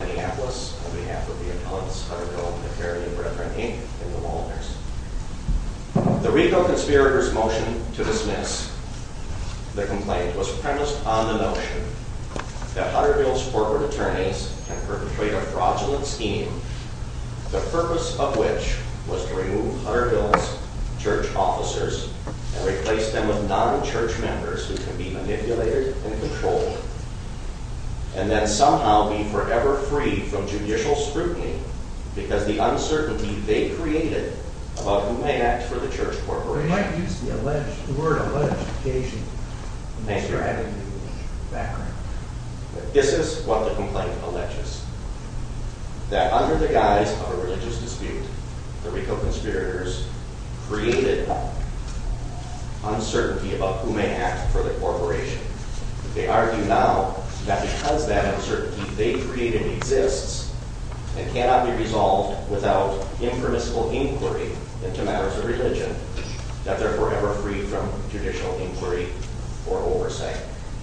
The Recall Conspirators motion to dismiss the complaint was premised on the notion that Hutterville's corporate attorneys can perpetrate a fraudulent scheme, the purpose of which was to remove Hutterville's church officers and replace them with non-church members who are free from judicial scrutiny because the uncertainty they created about who may act for the church corporation. This is what the complaint alleges, that under the guise of a religious dispute, the Recall Conspirators created uncertainty about who may act for the corporation. They argue now that because that uncertainty they created exists and cannot be resolved without impermissible inquiry into matters of religion, that they're forever free from judicial inquiry or oversight.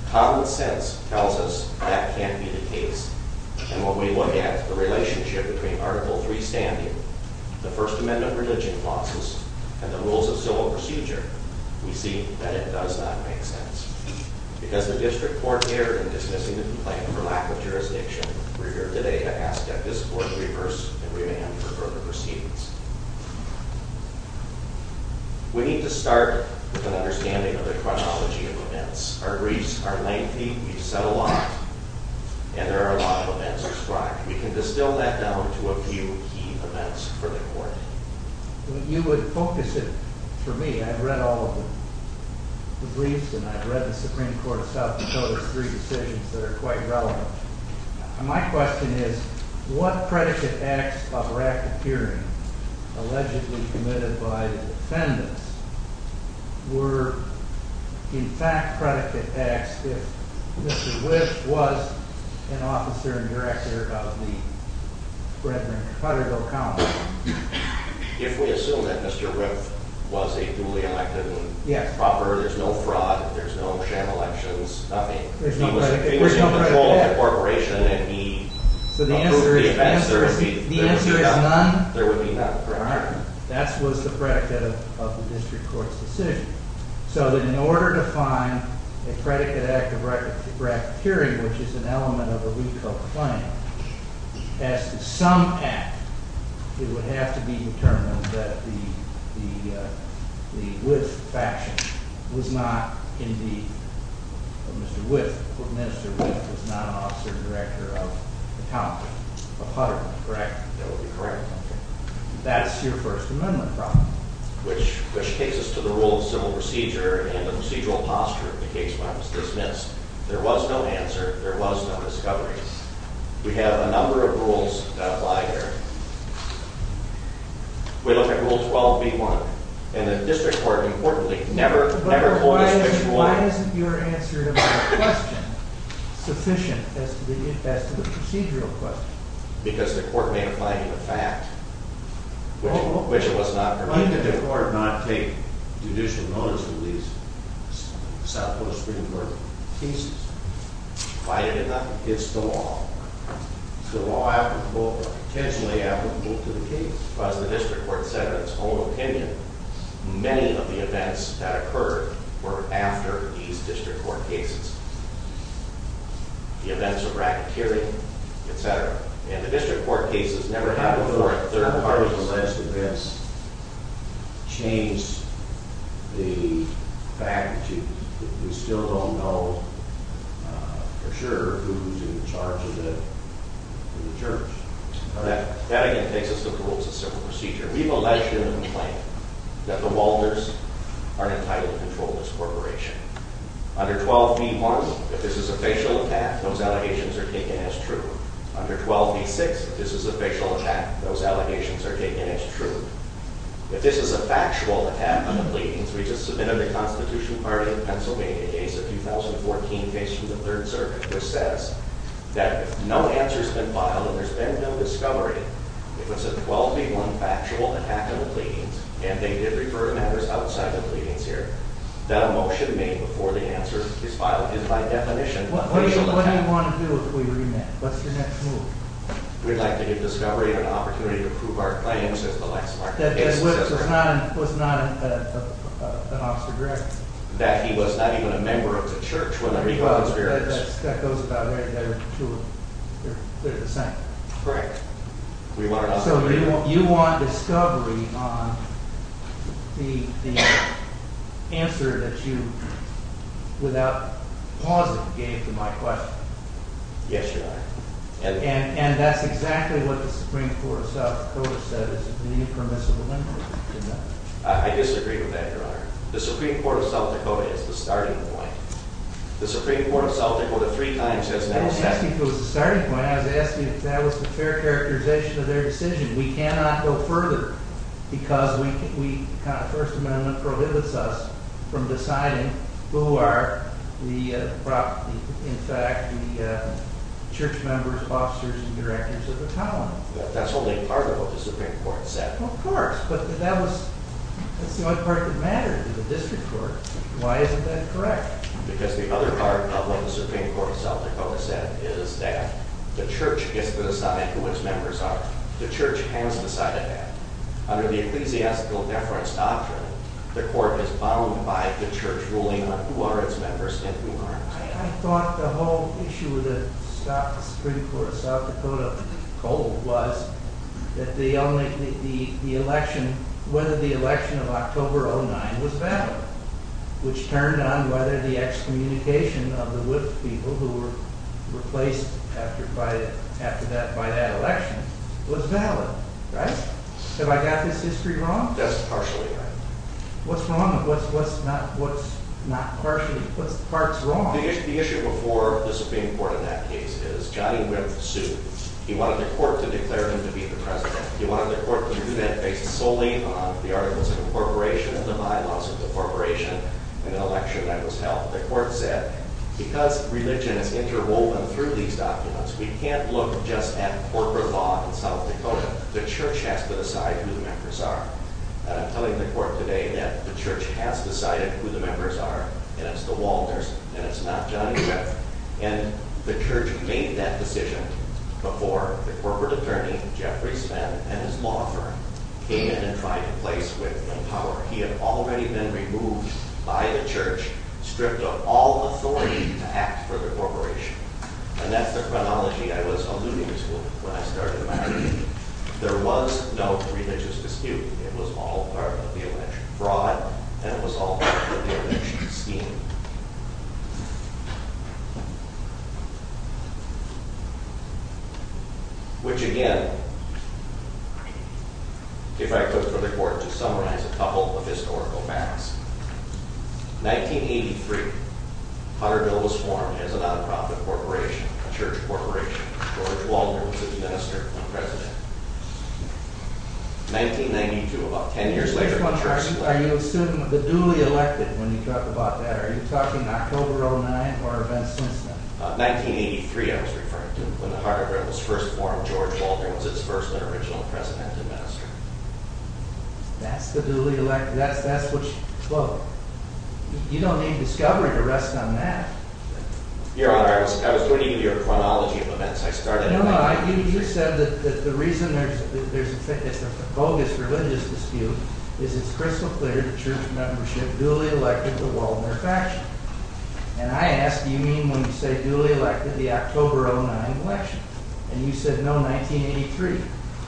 Common sense tells us that can't be the case, and when we look at the relationship between Article III standing, the First Amendment religion clauses, and the rules of civil procedure, we see that it does not make sense, because the district court erred in dismissing the complaint for lack of jurisdiction. We're here today to ask that this court reverse and remand for further proceedings. We need to start with an understanding of the chronology of events. Our briefs are lengthy, we've said a lot, and there are a lot of events described. We can distill that down to a few key events for the court. You would focus it for me, I've read all of the briefs and I've read the Supreme Court itself and noticed three decisions that are quite relevant. My question is, what predicate acts of erratic hearing, allegedly committed by the defendants, were in fact predicate acts if Mr. Whipp was an officer and director of the Brethren-Cotterville If we assume that Mr. Whipp was a duly elected and proper, there's no fraud, there's no sham elections, nothing. He was in control of the corporation and he approved the events, there would be none. That was the predicate of the district court's decision. So that in order to find a predicate act of erratic hearing, which is an element of a It would have to be determined that the Whipp faction was not, Mr. Whipp was not an officer and director of the Cotterville, correct? That would be correct. That's your First Amendment problem. Which takes us to the rule of civil procedure and the procedural posture of the case when it was dismissed. There was no answer, there was no discovery. We have a number of rules that apply here. We look at Rule 12b-1 and the district court, importantly, never, never Why isn't your answer to my question sufficient as to the procedural question? Because the court may apply to the fact, which it was not provided for. Why did the court not take judicial notice of these South Dakota Supreme Court cases? Why did it not? It's the law. Is the law applicable or potentially applicable to the case? As the district court said in its own opinion, many of the events that occurred were after these district court cases. The events of erratic hearing, etc. And the district court cases never happened before. The third and last events change the fact that we still don't know for sure who's in charge of the jurors. That again takes us to the rules of civil procedure. We've alleged in a complaint that the Walters aren't entitled to control this corporation. Under 12b-1, if this is a facial attack, those allegations are taken as true. Under 12b-6, if this is a facial attack, those allegations are taken as true. If this is a factual attack on the pleadings, we just submitted a Constitution Party in Pennsylvania case of 2014, facing the Third Circuit, which says that if no answer's been filed and there's been no discovery, if it's a 12b-1 factual attack on the pleadings, and they did refer members outside the pleadings here, that a motion made before the answer is filed is by definition a facial attack. So what do you want to do if we remand? What's your next move? We'd like to give Discovery an opportunity to prove our claim that the witness was not an officer directly. That he was not even a member of the church when the recall experience... That goes without saying. They're the same. Correct. So you want Discovery on the answer that you, without pausing, gave to my question? Yes, Your Honor. And that's exactly what the Supreme Court of South Dakota said, is that we need permissible limitations. I disagree with that, Your Honor. The Supreme Court of South Dakota is the starting point. The Supreme Court of South Dakota three times has never said that. I was asking if it was the starting point. I was asking if that was the fair characterization of their decision. We cannot go further because the First Amendment prohibits us from deciding who are, in fact, the church members, officers, and directors of the colony. That's only part of what the Supreme Court said. Of course, but that's the only part that mattered to the district court. Why isn't that correct? Because the other part of what the Supreme Court of South Dakota said is that the church gets to decide who its members are. The church has decided that. Under the Ecclesiastical Deference Doctrine, the court is bound by the church ruling on who are its members and who aren't. I thought the whole issue that stopped the Supreme Court of South Dakota cold was whether the election of October 2009 was valid, which turned on whether the excommunication of the Wipf people who were replaced by that election was valid, right? Have I got this history wrong? Yes, partially. What's wrong? What's not partially? What part's wrong? The issue before the Supreme Court in that case is Johnnie Wipf sued. He wanted the court to declare him to be the president. He wanted the court to do that based solely on the arguments of incorporation and the bylaws of incorporation in the election that was held. The court said, because religion is interwoven through these documents, we can't look just at corporate law in South Dakota. The church has to decide who the members are. And I'm telling the court today that the church has decided who the members are, and it's the Walters, and it's not Johnnie Wipf. And the church made that decision before the corporate attorney, Jeffrey Spence, and his law firm came in and tried to place Wipf in power. He had already been removed by the church, stripped of all authority to act for the corporation. And that's the chronology I was alluding to when I started my argument. There was no religious dispute. It was all part of the election fraud, and it was all part of the election scheme. Which, again, if I could for the court to summarize a couple of historical facts, 1983, Hunterville was formed as a non-profit corporation, a church corporation. George Walters was the minister and president. 1992, about ten years later, the church was formed. Are you still the duly elected when you talk about that? Are you still the newly elected? You're talking October of 1909 or events since then? 1983, I was referring to, when the Hunterville was first formed. George Walters was its first and original president and minister. That's the duly elected. Look, you don't need discovery to rest on that. Your Honor, I was alluding to your chronology of events. No, no, you said that the reason there's a bogus religious dispute is it's crystal clear the church membership duly elected the Waldner faction. And I ask, do you mean when you say duly elected the October of 1909 election? And you said no, 1983.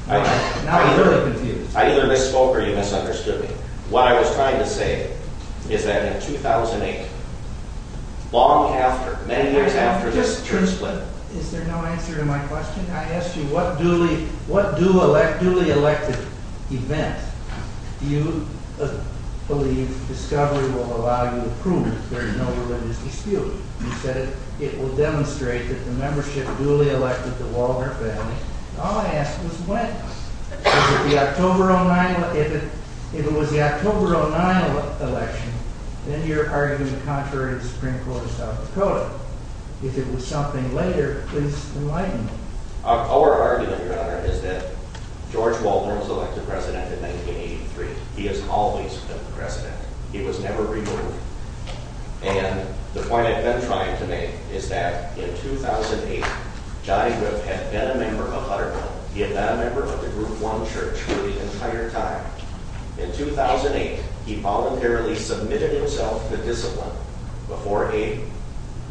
Now I'm really confused. I either misspoke or you misunderstood me. What I was trying to say is that in 2008, long after, many years after this church split, Is there no answer to my question? I asked you what duly elected event do you believe discovery will allow you to prove there is no religious dispute? You said it will demonstrate that the membership duly elected the Waldner family. All I asked was when. If it was the October of 1909 election, then you're arguing the contrary of the Supreme Court of South Dakota. If it was something later, please enlighten me. Our argument, Your Honor, is that George Waldner was elected president in 1983. He has always been the president. He was never removed. And the point I've been trying to make is that in 2008, Johnny Griff had been a member of Hutterville. He had been a member of the group one church for the entire time. In 2008, he voluntarily submitted himself to discipline before a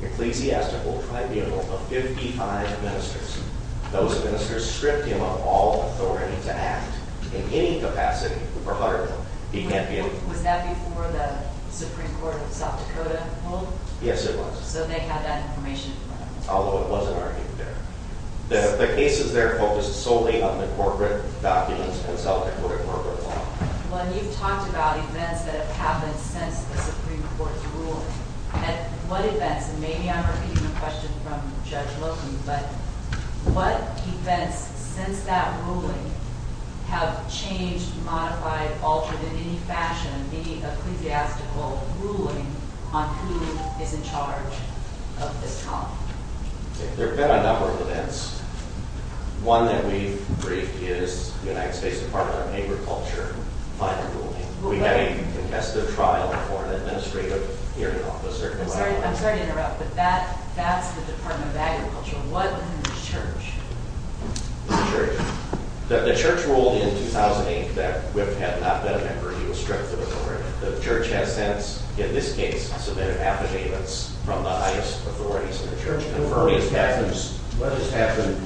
ecclesiastical tribunal of 55 ministers. Those ministers stripped him of all authority to act. In any capacity for Hutterville, he can't be elected. Was that before the Supreme Court of South Dakota ruled? Yes, it was. So they had that information? Although it wasn't argued there. The cases there focused solely on the corporate documents and South Dakota corporate law. Well, you've talked about events that have happened since the Supreme Court's ruling. At what events, and maybe I'm repeating the question from Judge Loken, but what events since that ruling have changed, modified, altered in any fashion any ecclesiastical ruling on who is in charge of this colony? There have been a number of events. One that we briefed is the United States Department of Agriculture final ruling. We had a contested trial for an administrative hearing officer. I'm sorry to interrupt, but that's the Department of Agriculture. What is the church? The church ruled in 2008 that Whip had not been a member. He was stripped of authority. The church has since, in this case, submitted affidavits from the highest authorities in the church What has happened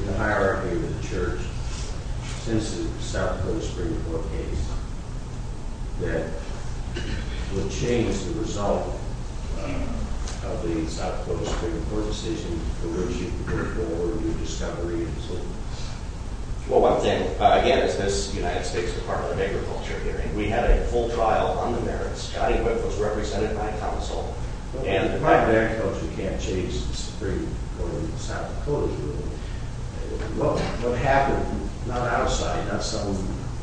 in the hierarchy of the church since the South Dakota Supreme Court case that would change the result of the South Dakota Supreme Court decision to issue the Supreme Court a new discovery? Well, one thing, again, it's this United States Department of Agriculture hearing. We had a full trial on the merits. Scotty Whip was represented by counsel. Again, the Department of Agriculture can't change the Supreme Court and the South Dakota Supreme Court ruling. What happened, not outside, not some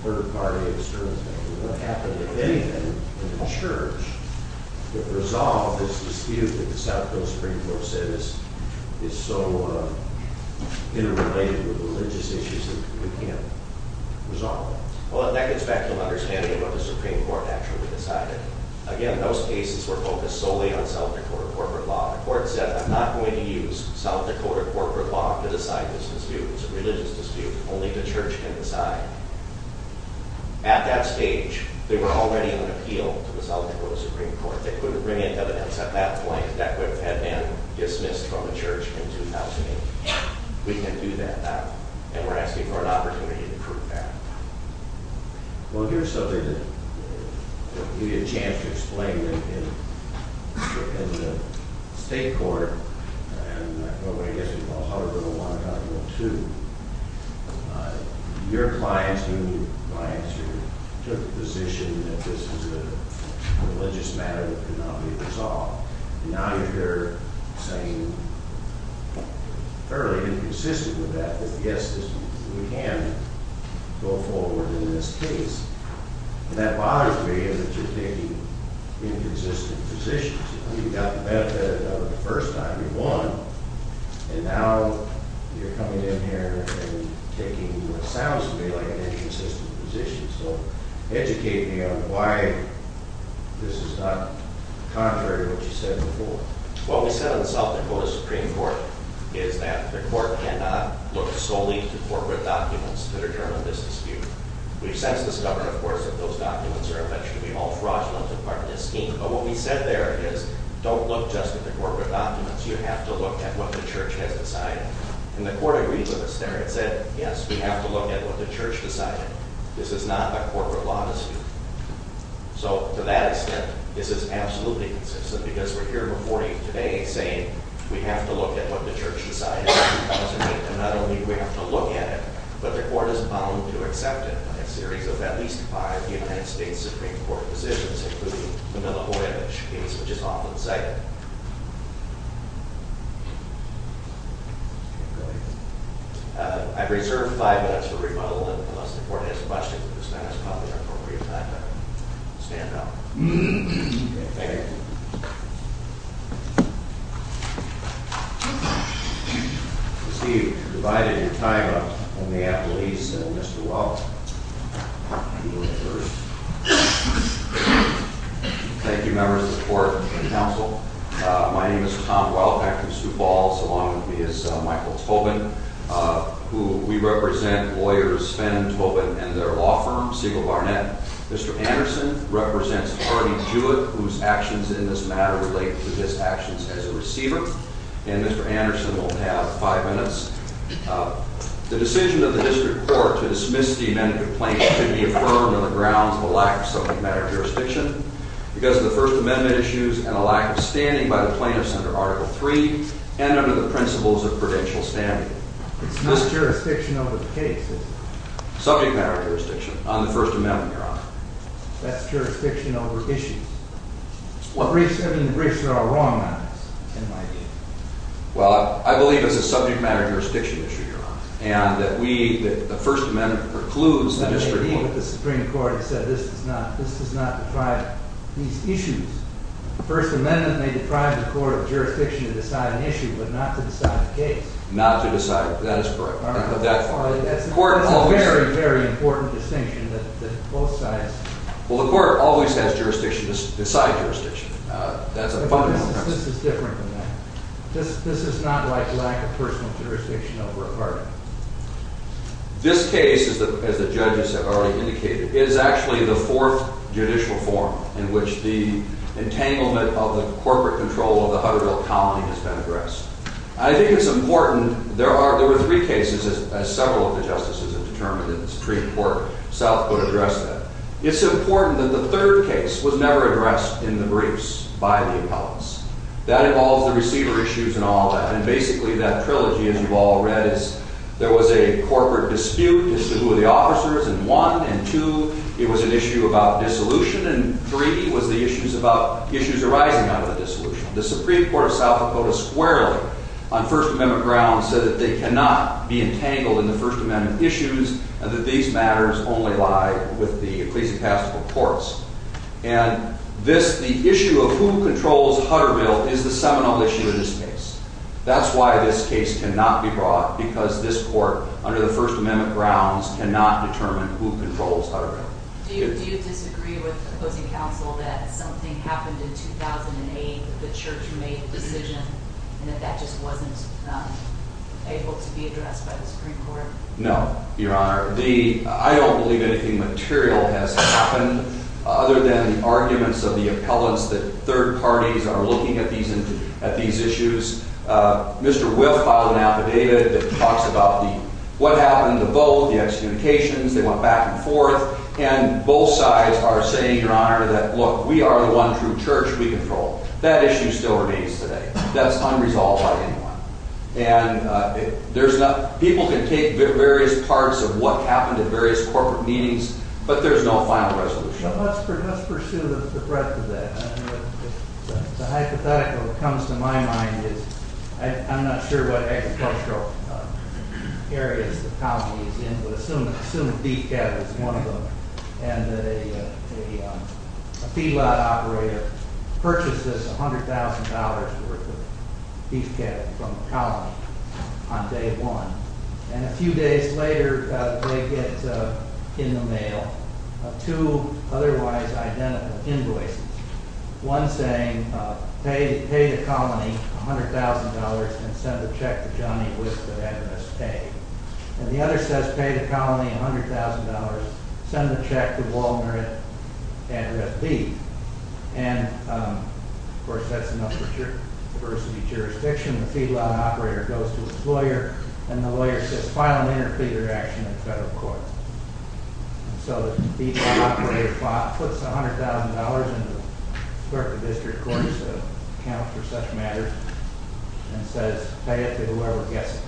third party external thing, what happened, if anything, in the church, that resolved this dispute that the South Dakota Supreme Court said is so interrelated with religious issues that we can't resolve it? Well, that gets back to an understanding of what the Supreme Court actually decided. Again, those cases were focused solely on South Dakota corporate law. The court said, I'm not going to use South Dakota corporate law to decide this dispute. It's a religious dispute. Only the church can decide. At that stage, they were already on appeal to the South Dakota Supreme Court. They couldn't bring in evidence at that point that Whip had been dismissed from the church in 2008. We can do that now. And we're asking for an opportunity to prove that. Well, here's something that I'll give you a chance to explain. In the state court, in what I guess we call Article 1 or Article 2, your clients, union clients, took the position that this was a religious matter that could not be resolved. And now you're saying, fairly inconsistent with that, that yes, we can go forward in this case. And that bothers me in that you're taking inconsistent positions. You got the benefit of it the first time. You won. And now you're coming in here and taking what sounds to me like an inconsistent position. So educate me on why this is not contrary to what you said before. What we said on the South Dakota Supreme Court is that the court cannot look solely to corporate documents to determine this dispute. We've since discovered, of course, that those documents are eventually all fraudulent and part of this scheme. But what we said there is, don't look just at the corporate documents. You have to look at what the church has decided. And the court agreed with us there. It said, yes, we have to look at what the church decided. This is not a corporate law dispute. So to that extent, this is absolutely inconsistent because we're here before you today saying we have to look at what the church decided. And not only do we have to look at it, but the court is bound to accept it in a series of at least five United States Supreme Court decisions, including the Milahoyevich case, which is often cited. I've reserved five minutes for rebuttal. Unless the court has a question, this time is probably the appropriate time to stand up. Thank you. Steve, you've divided your time up. Let me have Lise and Mr. Waller. Thank you, members of the court and counsel. My name is Tom Wall, after Stu Ball. Along with me is Michael Tobin, who we represent lawyers Spen, Tobin, and their law firm, Siegel Barnett. Mr. Anderson represents Hardy Jewett, whose actions in this matter relate to his actions as a receiver. And Mr. Anderson will have five minutes. The decision of the district court to dismiss the amended complaint should be affirmed on the grounds of a lack of subject matter jurisdiction because of the First Amendment issues and a lack of standing by the plaintiffs under Article III and under the principles of prudential standing. It's not jurisdiction over the case. Subject matter jurisdiction on the First Amendment, Your Honor. That's jurisdiction over issues. What briefs are in the briefs that are wrong on this, in my view? Well, I believe it's a subject matter jurisdiction issue, Your Honor, and that the First Amendment precludes the district court. That may be, but the Supreme Court has said this does not deprive these issues. The First Amendment may deprive the court of jurisdiction to decide an issue, but not to decide a case. Not to decide. That is correct. That's a very, very important distinction that both sides... Well, the court always has jurisdiction to decide jurisdiction. This is different than that. This is not like lack of personal jurisdiction over a pardon. This case, as the judges have already indicated, is actually the fourth judicial forum in which the entanglement of the corporate control of the Hutterville colony has been addressed. I think it's important. There were three cases, as several of the justices have determined in the Supreme Court. South could address that. It's important that the third case was never addressed in the briefs by the appellants. That involves the receiver issues and all that, and basically that trilogy, as you've all read, is there was a corporate dispute as to who were the officers in one, and two, it was an issue about dissolution, and three was the issues arising out of the dissolution. The Supreme Court of South Dakota squarely, on First Amendment grounds, said that they cannot be entangled in the First Amendment issues and that these matters only lie with the ecclesiastical courts. And the issue of who controls Hutterville is the seminal issue in this case. That's why this case cannot be brought, because this court, under the First Amendment grounds, cannot determine who controls Hutterville. Do you disagree with opposing counsel that something happened in 2008, the church made the decision, and that that just wasn't able to be addressed by the Supreme Court? No, Your Honor. I don't believe anything material has happened other than the arguments of the appellants that third parties are looking at these issues. Mr. Wythe filed an affidavit that talks about what happened in the vote, the excommunications, they went back and forth, and both sides are saying, Your Honor, that, look, we are the one true church we control. That issue still remains today. That's unresolved by anyone. And people can take various parts of what happened at various corporate meetings, but there's no final resolution. Let's pursue the breadth of that. The hypothetical that comes to my mind is, I'm not sure what agricultural areas the county is in, but assume beef cattle is one of them, and a feedlot operator purchases $100,000 worth of beef cattle from the colony on day one. And a few days later, they get in the mail two otherwise identical invoices. One saying, pay the colony $100,000 and send the check to Johnny with the address paid. And the other says, pay the colony $100,000, send the check to Waldner at address B. And, of course, that's enough for diversity jurisdiction. The feedlot operator goes to his lawyer, and the lawyer says, file an interpreter action in federal court. So the operator puts $100,000 in the clerk of district court's account for such matters and says, pay it to whoever gets it.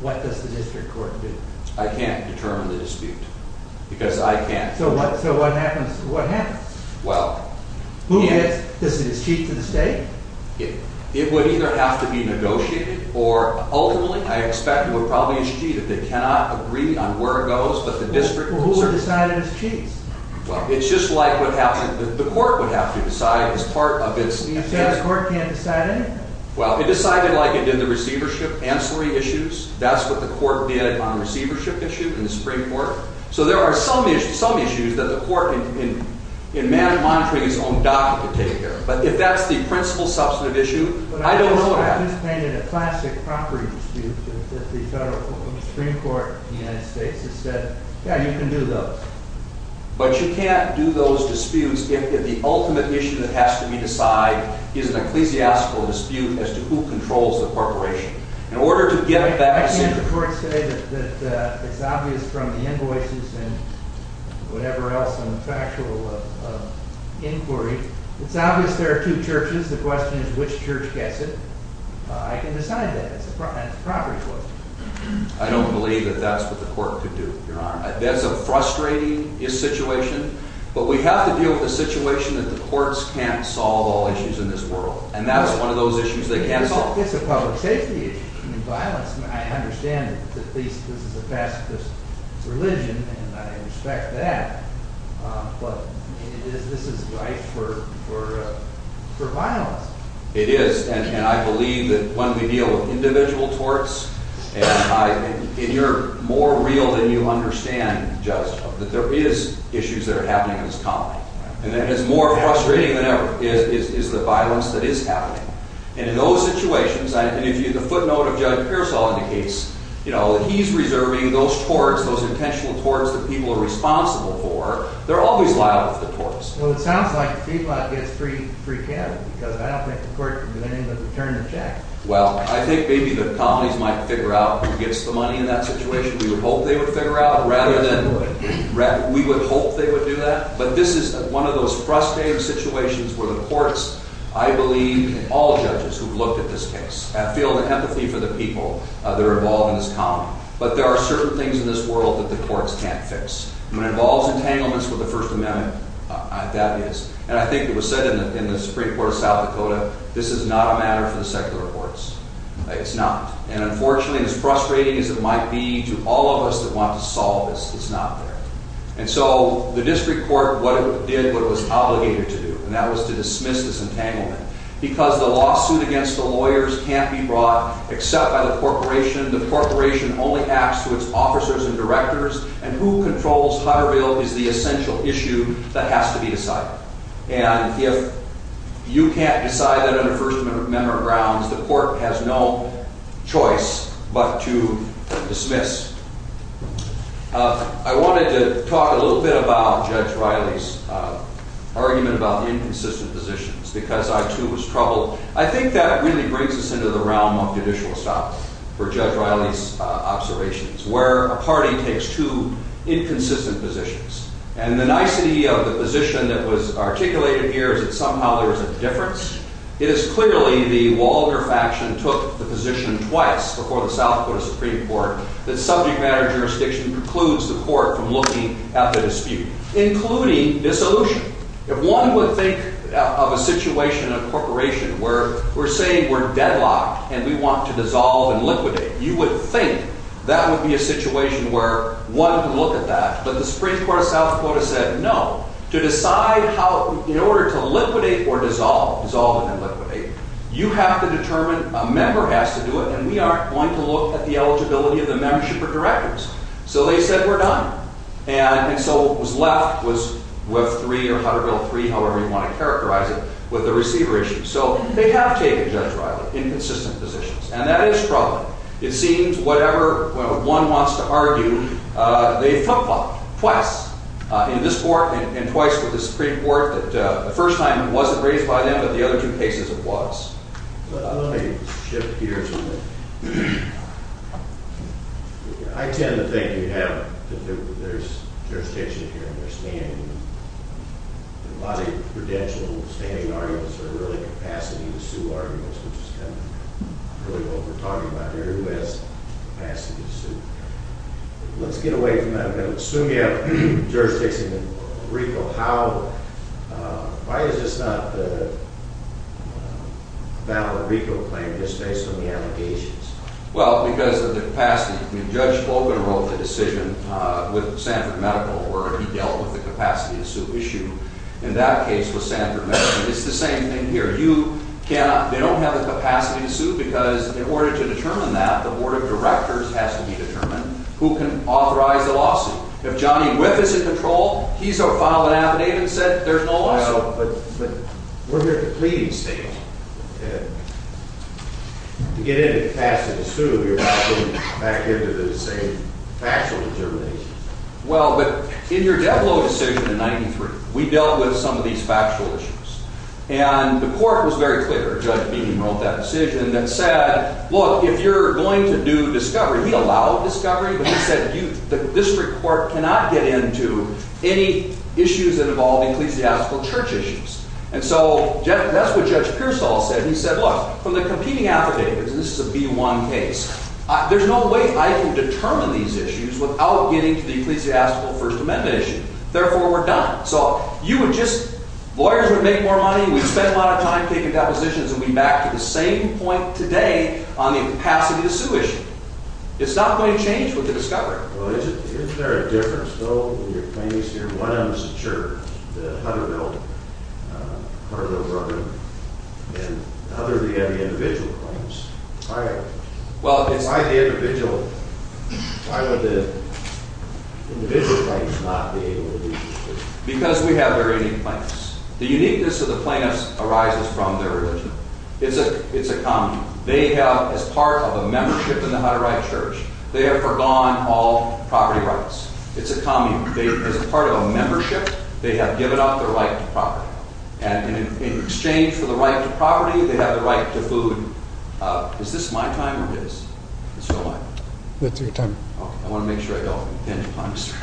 What does the district court do? I can't determine the dispute, because I can't. So what happens? Well... Who gets it? Is it the chiefs of the state? It would either have to be negotiated, or ultimately, I expect, it would probably be a cheat if they cannot agree on where it goes, but the district rules are... Who are decided as chiefs? Well, it's just like the court would have to decide as part of its... You said the court can't decide anything. Well, it decided like it did the receivership, ancillary issues. That's what the court did on receivership issue in the Supreme Court. So there are some issues that the court, in monitoring its own docket, would take care of. But if that's the principal substantive issue, I don't know what happens. But I just painted a classic property dispute that the federal Supreme Court in the United States has said, yeah, you can do those. But you can't do those disputes if the ultimate issue that has to be decided is an ecclesiastical dispute as to who controls the corporation. In order to get that... I can't the court say that it's obvious from the invoices and whatever else on the factual inquiry. It's obvious there are two churches. The question is which church gets it. I can decide that. It's a property question. I don't believe that that's what the court could do, Your Honor. That's a frustrating situation. But we have to deal with the situation that the courts can't solve all issues in this world. And that's one of those issues they can't solve. It's a public safety issue. I mean, violence. I understand that at least this is a pacifist religion, and I respect that. But this is right for violence. It is. And I believe that when we deal with individual torts, and you're more real than you understand, Judge, that there is issues that are happening in this colony. And it's more frustrating than ever is the violence that is happening. And in those situations, and if you look at the footnote of Judge Pearsall in the case, you know, he's reserving those torts, those intentional torts that people are responsible for. They're always liable for the torts. Well, it sounds like the Peabody gets pretty freaked out because I don't think the court can do anything but return the check. Well, I think maybe the colonies might figure out who gets the money in that situation. We would hope they would figure out, rather than, we would hope they would do that. But this is one of those frustrating situations where the courts, I believe, and all judges who've looked at this case, feel the empathy for the people that are involved in this colony. But there are certain things in this world that the courts can't fix. And it involves entanglements with the First Amendment. That is. And I think it was said in the Supreme Court of South Dakota, this is not a matter for the secular courts. It's not. And unfortunately, as frustrating as it might be to all of us that want to solve this, it's not there. And so the district court did what it was obligated to do, and that was to dismiss this entanglement. Because the lawsuit against the lawyers can't be brought except by the corporation. The corporation only acts to its officers and directors, and who controls Hutterville is the essential issue that has to be decided. And if you can't decide that on a First Amendment grounds, the court has no choice but to dismiss. I wanted to talk a little bit about Judge Riley's argument about the inconsistent positions. Because I, too, was troubled. I think that really brings us into the realm of judicial stop for Judge Riley's observations, where a party takes two inconsistent positions. And the nicety of the position that was articulated here is that somehow there is a difference. It is clearly the Walger faction took the position twice before the South Dakota Supreme Court that subject matter jurisdiction precludes the court from looking at the dispute, including dissolution. If one would think of a situation in a corporation where we're saying we're deadlocked and we want to dissolve and liquidate, you would think that would be a situation where one could look at that. But the Supreme Court of South Dakota said no. To decide how, in order to liquidate or dissolve, dissolve and then liquidate, you have to determine a member has to do it, and we aren't going to look at the eligibility of the membership or directors. So they said we're done. And so what was left was Web 3 or Hutterville 3, however you want to characterize it, with the receiver issue. So they have taken, Judge Riley, inconsistent positions. And that is troubling. It seems, whatever one wants to argue, they fought twice in this court and twice with the Supreme Court that the first time it wasn't raised by them, but the other two cases it was. Let me shift gears a little. I tend to think there's jurisdiction here and they're standing. A lot of prudential standing arguments are really capacity-to-sue arguments, which is kind of really what we're talking about here. Who has capacity to sue? Let's get away from that. I'm going to assume you have jurisdiction. Why is this not a valid RICO claim just based on the allegations? Well, because of the capacity. Judge Logan wrote the decision with Sanford Medical where he dealt with the capacity-to-sue issue. In that case with Sanford Medical, it's the same thing here. They don't have the capacity to sue because in order to determine that, the Board of Directors has to be determined who can authorize the lawsuit. If Johnny Whiff is in control, he's going to file an affidavit and say there's no lawsuit. But we're here to plead and stay on. To get into capacity-to-sue, you're not going back into the same factual determination. Well, but in your Deblo decision in 1993, we dealt with some of these factual issues. And the court was very clear, Judge Beeney wrote that decision, that said, look, if you're going to do discovery, we allow discovery. But he said the district court cannot get into any issues that involve ecclesiastical church issues. And so that's what Judge Pearsall said. He said, look, from the competing affidavits, and this is a B-1 case, there's no way I can determine these issues without getting to the ecclesiastical First Amendment issue. Therefore, we're done. So lawyers would make more money, we'd spend a lot of time taking depositions, and we'd be back to the same point today on the capacity-to-sue issue. It's not going to change with the discovery. Well, isn't there a difference, though, in your plaintiffs here? One of them is the church, the Hutterville, Hutterville Brooklyn. And the other, we have the individual plaintiffs. Why are they? Well, it's... Why the individual... Why would the individual plaintiffs not be able to do the discovery? Because we have very unique plaintiffs. The uniqueness of the plaintiffs arises from their religion. It's a common... They have, as part of a membership in the Hutterite church, they have forgone all property rights. It's a common... As a part of a membership, they have given up their right to property. And in exchange for the right to property, they have the right to food. Is this my time or his? It's still mine. That's your time. Okay. I want to make sure I don't end up on Mr.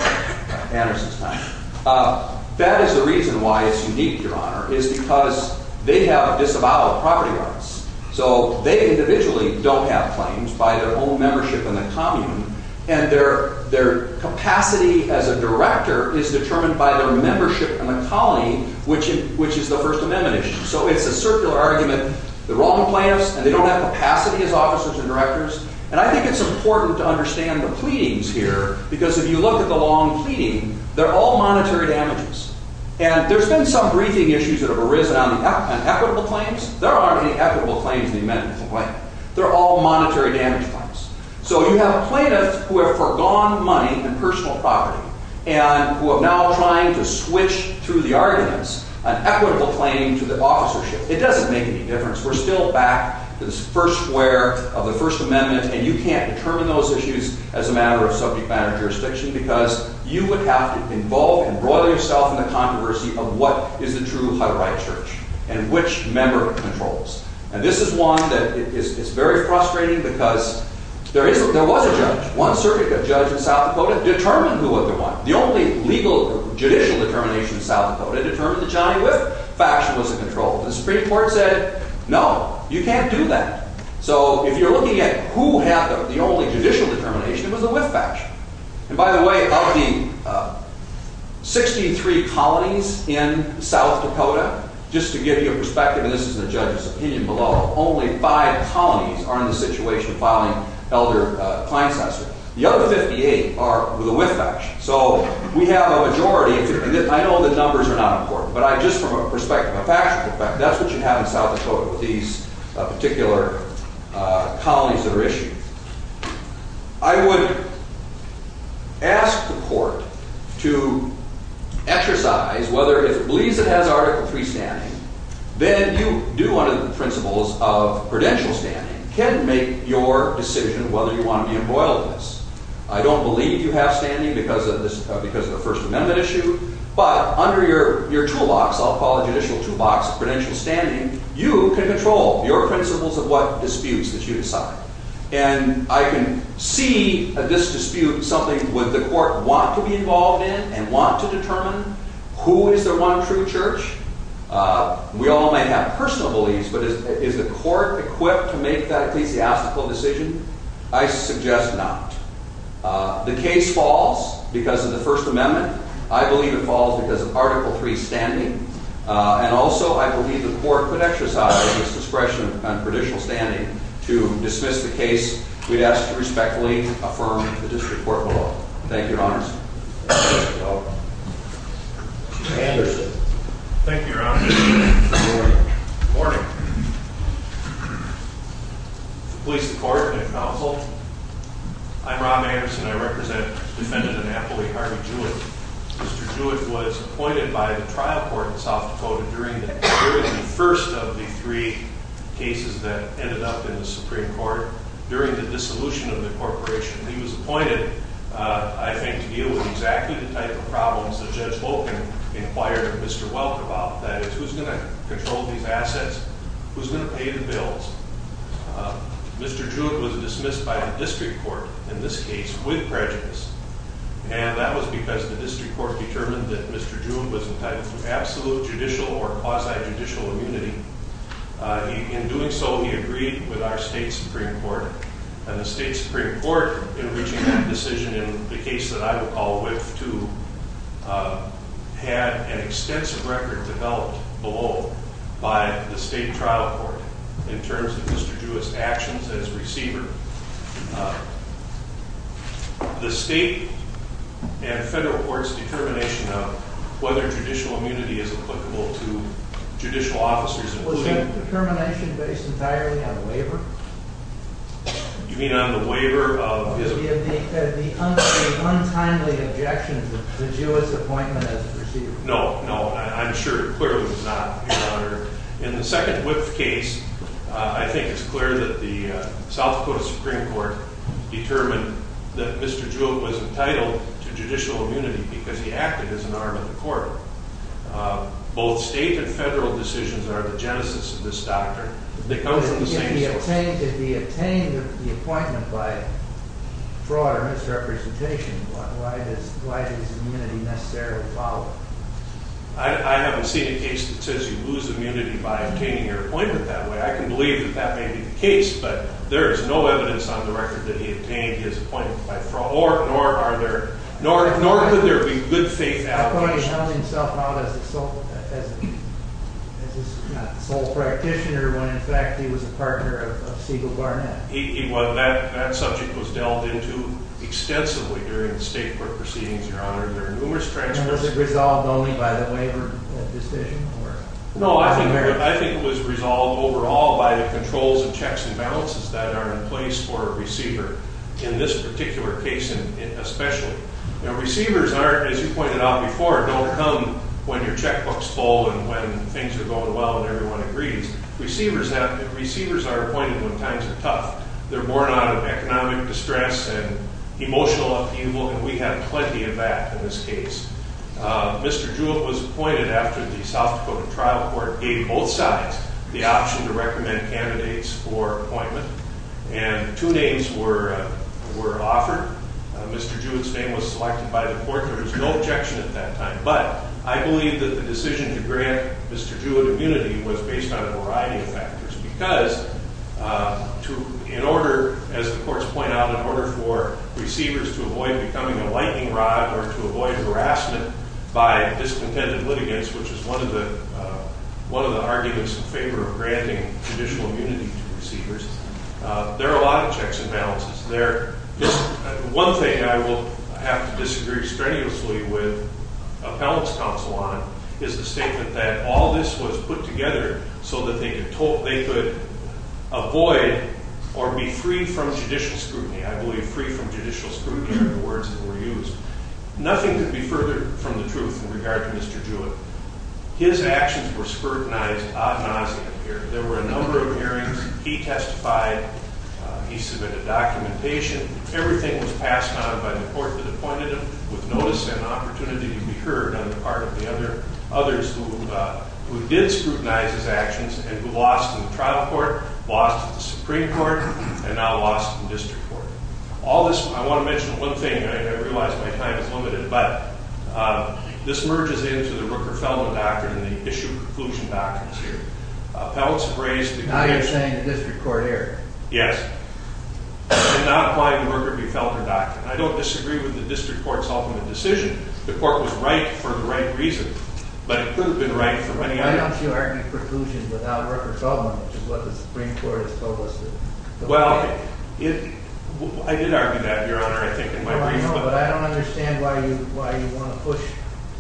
Anderson's time. That is the reason why it's unique, Your Honor, is because they have disavowed property rights. So they individually don't have claims by their own membership in the commune. And their capacity as a director is determined by their membership in the colony, which is the First Amendment issue. So it's a circular argument. They're all complainants, and they don't have capacity as officers and directors. And I think it's important to understand the pleadings here, because if you look at the long pleading, they're all monetary damages. And there's been some briefing issues that have arisen on equitable claims. There aren't any equitable claims in the amendment complaint. They're all monetary damage claims. So you have plaintiffs who have forgone money and personal property and who are now trying to switch through the arguments an equitable claim to the officership. It doesn't make any difference. We're still back to this first square of the First Amendment, and you can't determine those issues as a matter of subject matter jurisdiction because you would have to involve and broil yourself in the controversy of what is a true Hutterite church and which member controls. And this is one that is very frustrating because there was a judge. One certificate judge in South Dakota determined who was the one, the only legal judicial determination in South Dakota, determined that Johnny Whiff faction was in control. The Supreme Court said, no, you can't do that. So if you're looking at who had the only judicial determination, it was the Whiff faction. And, by the way, of the 63 colonies in South Dakota, just to give you a perspective, and this is the judge's opinion below, only five colonies are in the situation of filing elder client censors. The other 58 are with the Whiff faction. So we have a majority. I know the numbers are not important, but just from a perspective, a factual perspective, that's what you have in South Dakota with these particular colonies that are issued. I would ask the court to exercise whether, if it believes it has Article III standing, then you do under the principles of credential standing, can make your decision whether you want to be embroiled in this. I don't believe you have standing because of the First Amendment issue, but under your toolbox, I'll call it judicial toolbox, credential standing, you can control your principles of what disputes that you decide. And I can see, at this dispute, something with the court want to be involved in and want to determine who is their one true church. We all might have personal beliefs, but is the court equipped to make that ecclesiastical decision? I suggest not. The case falls because of the First Amendment. I believe it falls because of Article III standing. And also, I believe the court could exercise its discretion on credential standing to dismiss the case. We'd ask you to respectfully affirm the disreport below. Thank you, Your Honors. Mr. Anderson. Thank you, Your Honor. Good morning. Good morning. Police Department and Counsel, I'm Rob Anderson. I represent Defendant Anatoly Harvey Jewett. Mr. Jewett was appointed by the trial court in South Dakota during the first of the three cases that ended up in the Supreme Court during the dissolution of the corporation. He was appointed, I think, to deal with exactly the type of problems that Judge Volkin inquired Mr. Welk about. That is, who's going to control these assets? Who's going to pay the bills? Mr. Jewett was dismissed by the district court, in this case, with prejudice. And that was because the district court determined that Mr. Jewett was entitled to absolute judicial or quasi judicial immunity. In doing so, he agreed with our state Supreme Court. And the state Supreme Court, in reaching that decision in the case that I recall with two, had an extensive record developed below by the state trial court in terms of Mr. Jewett's actions as receiver. The state and federal courts' determination of whether judicial immunity is applicable to judicial officers in the state. Was that determination based entirely on waiver? You mean on the waiver of? The untimely objection to Jewett's appointment as receiver. No, no. I'm sure it clearly was not, Your Honor. In the second WIPF case, I think it's the federal Supreme Court determined that Mr. Jewett was entitled to judicial immunity because he acted as an arm of the court. Both state and federal decisions are the genesis of this doctrine. They come from the same source. If he obtained the appointment by fraud or misrepresentation, why does immunity necessarily follow? I haven't seen a case that says you lose immunity by obtaining your appointment that way. I can believe that that may be the case, but there is no evidence on the record that he obtained his appointment by fraud, nor could there be good faith allegations. How come he held himself out as a sole practitioner when, in fact, he was a partner of Siegel Barnett? Well, that subject was delved into extensively during the state court proceedings, Your Honor, during numerous transcripts. And was it resolved only by the waiver decision? No, I think it was resolved overall by the controls and checks and balances that are in place for a receiver, in this particular case especially. Now receivers, as you pointed out before, don't come when your checkbook's full and when things are going well and everyone agrees. Receivers are appointed when times are tough. They're born out of economic distress and emotional upheaval, and we have plenty of that in this case. Mr. Jewett was appointed after the South Dakota trial court gave both sides the option to recommend candidates for appointment, and two names were offered. Mr. Jewett's name was selected by the court. There was no objection at that time, but I believe that the decision to grant Mr. Jewett immunity was based on a variety of factors because in order, as the courts point out, in order for receivers to avoid becoming a lightning rod or to avoid harassment by discontented litigants, which is one of the arguments in favor of granting judicial immunity to receivers, there are a lot of checks and balances there. One thing I will have to disagree strenuously with appellant's counsel on is the statement that all this was put together so that they could avoid or be free from judicial scrutiny. I believe free from judicial scrutiny are the words that were used. Nothing could be further from the truth in regard to Mr. Jewett. His actions were scrutinized ad nauseam here. There were a number of hearings. He testified. He submitted documentation. Everything was passed on by the court that appointed him with notice and opportunity to be heard on the part of the others who did scrutinize his actions and who lost in the trial court, lost at the Supreme Court, and now lost in district court. All this, I want to mention one thing, and I realize my time is limited, but this merges into the Rooker-Feldman doctrine and the issue-conclusion doctrines here. Appellants have raised... Now you're saying the district court error. Yes. I did not find Rooker-Feldman doctrine. I don't disagree with the district court's ultimate decision. The court was right for the right reason, but it could have been right for many others. Why don't you argue preclusion without Rooker-Feldman, which is what the Supreme Court has told us to do? Well, I did argue that, Your Honor, I think in my brief book. But I don't understand why you want to push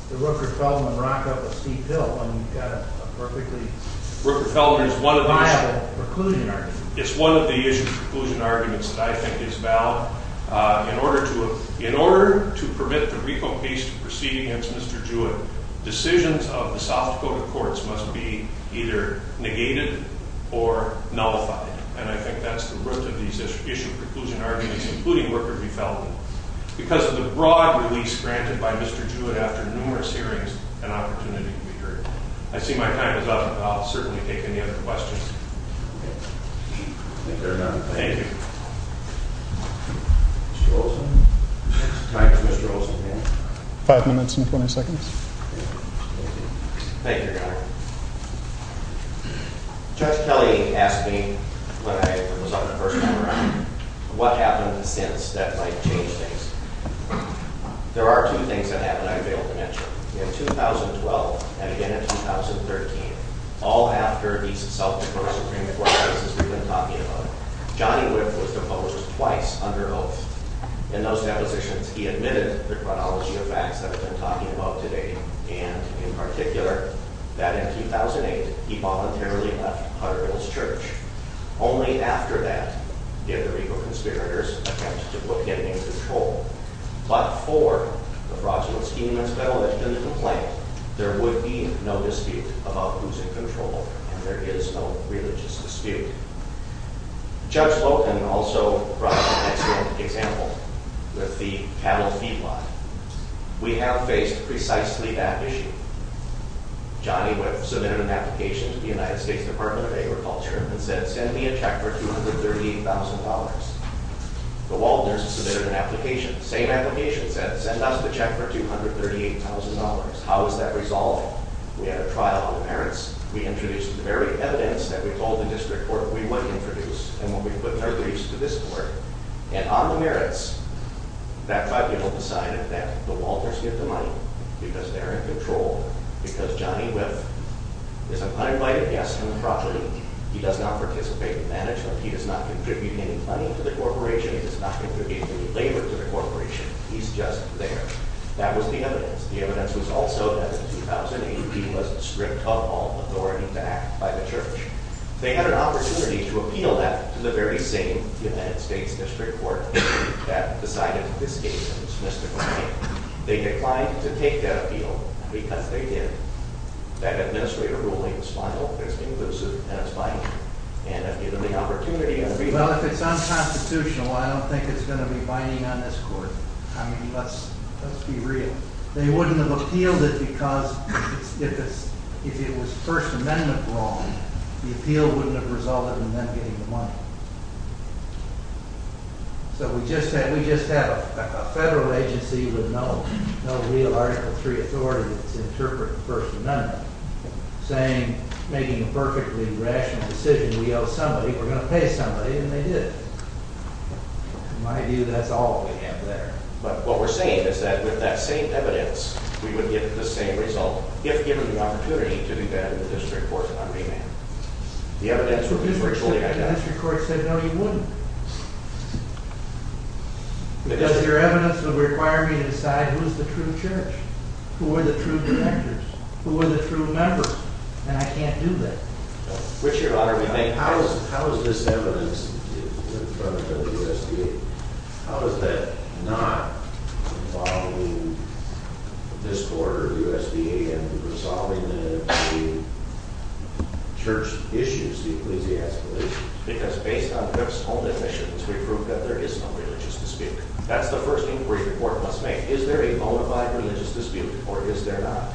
the Rooker-Feldman rock up a steep hill when you've got a perfectly viable preclusion argument. Rooker-Feldman is one of the issue-conclusion arguments that I think is valid. In order to permit the RICO case to proceed against Mr. Jewett, decisions of the South Dakota courts must be either negated or nullified, and I think that's the root of these issue-conclusion arguments, including Rooker-Feldman. Because of the broad release granted by Mr. Jewett after numerous hearings, an opportunity can be heard. I see my time is up, and I'll certainly take any other questions. Thank you very much. Thank you. Mr. Olson? Time for Mr. Olson. Five minutes and 20 seconds. Thank you, Your Honor. Judge Kelly asked me when I was on the first round what happened since that might change things. There are two things that haven't I failed to mention. In 2012, and again in 2013, all after these South Dakota Supreme Court cases we've been talking about, Johnny Whipp was deposed twice under oath. In those depositions, he admitted the chronology of facts that we've been talking about today, and in particular, that in 2008, he voluntarily left Hutterville's church. Only after that did the regal conspirators attempt to put him in control. But for the fraudulent scheme that's been alleged and the complaint, there would be no dispute about who's in control, and there is no religious dispute. Judge Lowton also brought up an excellent example with the cattle feed lot. We have faced precisely that issue. Johnny Whipp submitted an application to the United States Department of Agriculture and said, send me a check for $238,000. The Walters submitted an application, same application said, send us the check for $238,000. How is that resolved? We had a trial on the merits. We introduced the very evidence that we told the district court we would introduce and what we put in our lease to this court. And on the merits, that tribunal decided that the Walters get the money because they're in control because Johnny Whipp is an uninvited guest on the property. He does not participate in management. He does not contribute any money to the corporation. He does not contribute any labor to the corporation. He's just there. That was the evidence. The evidence was also that in 2008, he was stripped of all authority to act by the church. They had an opportunity to appeal that to the very same United States district court that decided this case on this mystical night. They declined to take that appeal because they did. That administrator ruling is final, it's inclusive, and it's binding. And if given the opportunity... Well, if it's unconstitutional, I don't think it's going to be binding on this court. I mean, let's be real. They wouldn't have appealed it because if it was First Amendment wrong, the appeal wouldn't have resulted in them getting the money. So we just have a federal agency with no real Article III authority that's interpreting First Amendment, saying, making a perfectly rational decision, we owe somebody, we're going to pay somebody, and they did. In my view, that's all we have there. But what we're saying is that with that same evidence, we would get the same result, if given the opportunity to do that in the district court's agreement. The evidence would be virtually identical. The district court said no, you wouldn't. Because your evidence would require me to decide who is the true church, who are the true directors, who are the true members, and I can't do that. Richard, how is this evidence in front of the USDA, how is that not involving this board or USDA in resolving the church issues, the Ecclesiastical issues? Because based on Griff's own admissions, we proved that there is no religious dispute. That's the first inquiry the board must make. Is there a bona fide religious dispute, or is there not?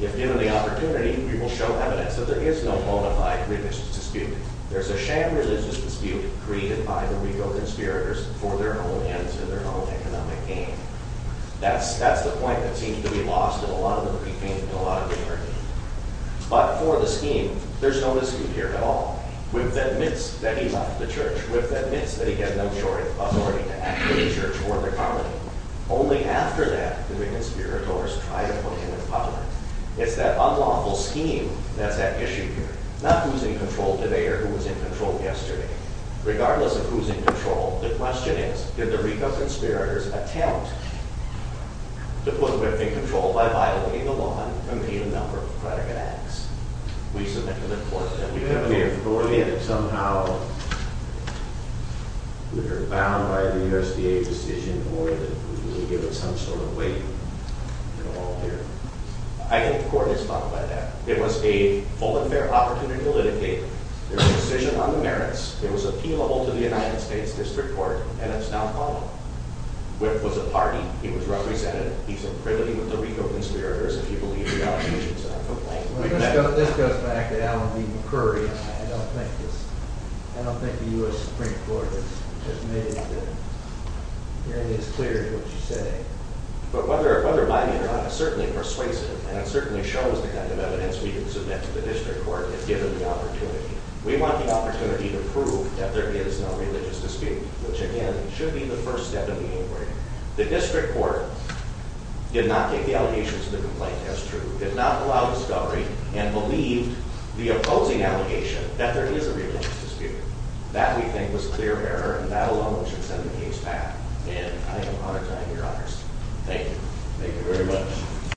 If given the opportunity, we will show evidence that there is no bona fide religious dispute. There's a sham religious dispute created by the RICO conspirators for their own ends and their own economic gain. That's the point that seems to be lost in a lot of the briefings and a lot of the interviews. But for the scheme, there's no scheme here at all. Griff admits that he left the church. Griff admits that he had no authority to act in the church or the colony. Only after that did the conspirators try to put him in public. It's that unlawful scheme that's at issue here. Not who's in control today or who was in control yesterday. Regardless of who's in control, the question is, did the RICO conspirators attempt to put Griff in control by violating the law and committing a number of predicate acts? We submit to the court that we have an authority and that somehow we were bound by the USDA decision or that we were given some sort of weight in the law here. I think the court has thought about that. It was a full and fair opportunity to litigate. There was a decision on the merits. It was appealable to the United States District Court. And it's now filed. Griff was a party. He was represented. He's in privilege with the RICO conspirators if you believe the allegations of a complaint. This goes back to Alan B. McCurry. I don't think the U.S. Supreme Court has made it as clear as what you say. But whether by me or not, it certainly persuades it and it certainly shows the kind of evidence we can submit to the District Court if given the opportunity. We want the opportunity to prove that there is no religious dispute, which again, should be the first step in the inquiry. The District Court did not take the allegations of the complaint as true. Did not allow discovery and believed the opposing allegation that there is a religious dispute. That we think was clear error and that alone should send the case back. And I am honored to honor your honors. Thank you. Thank you very much.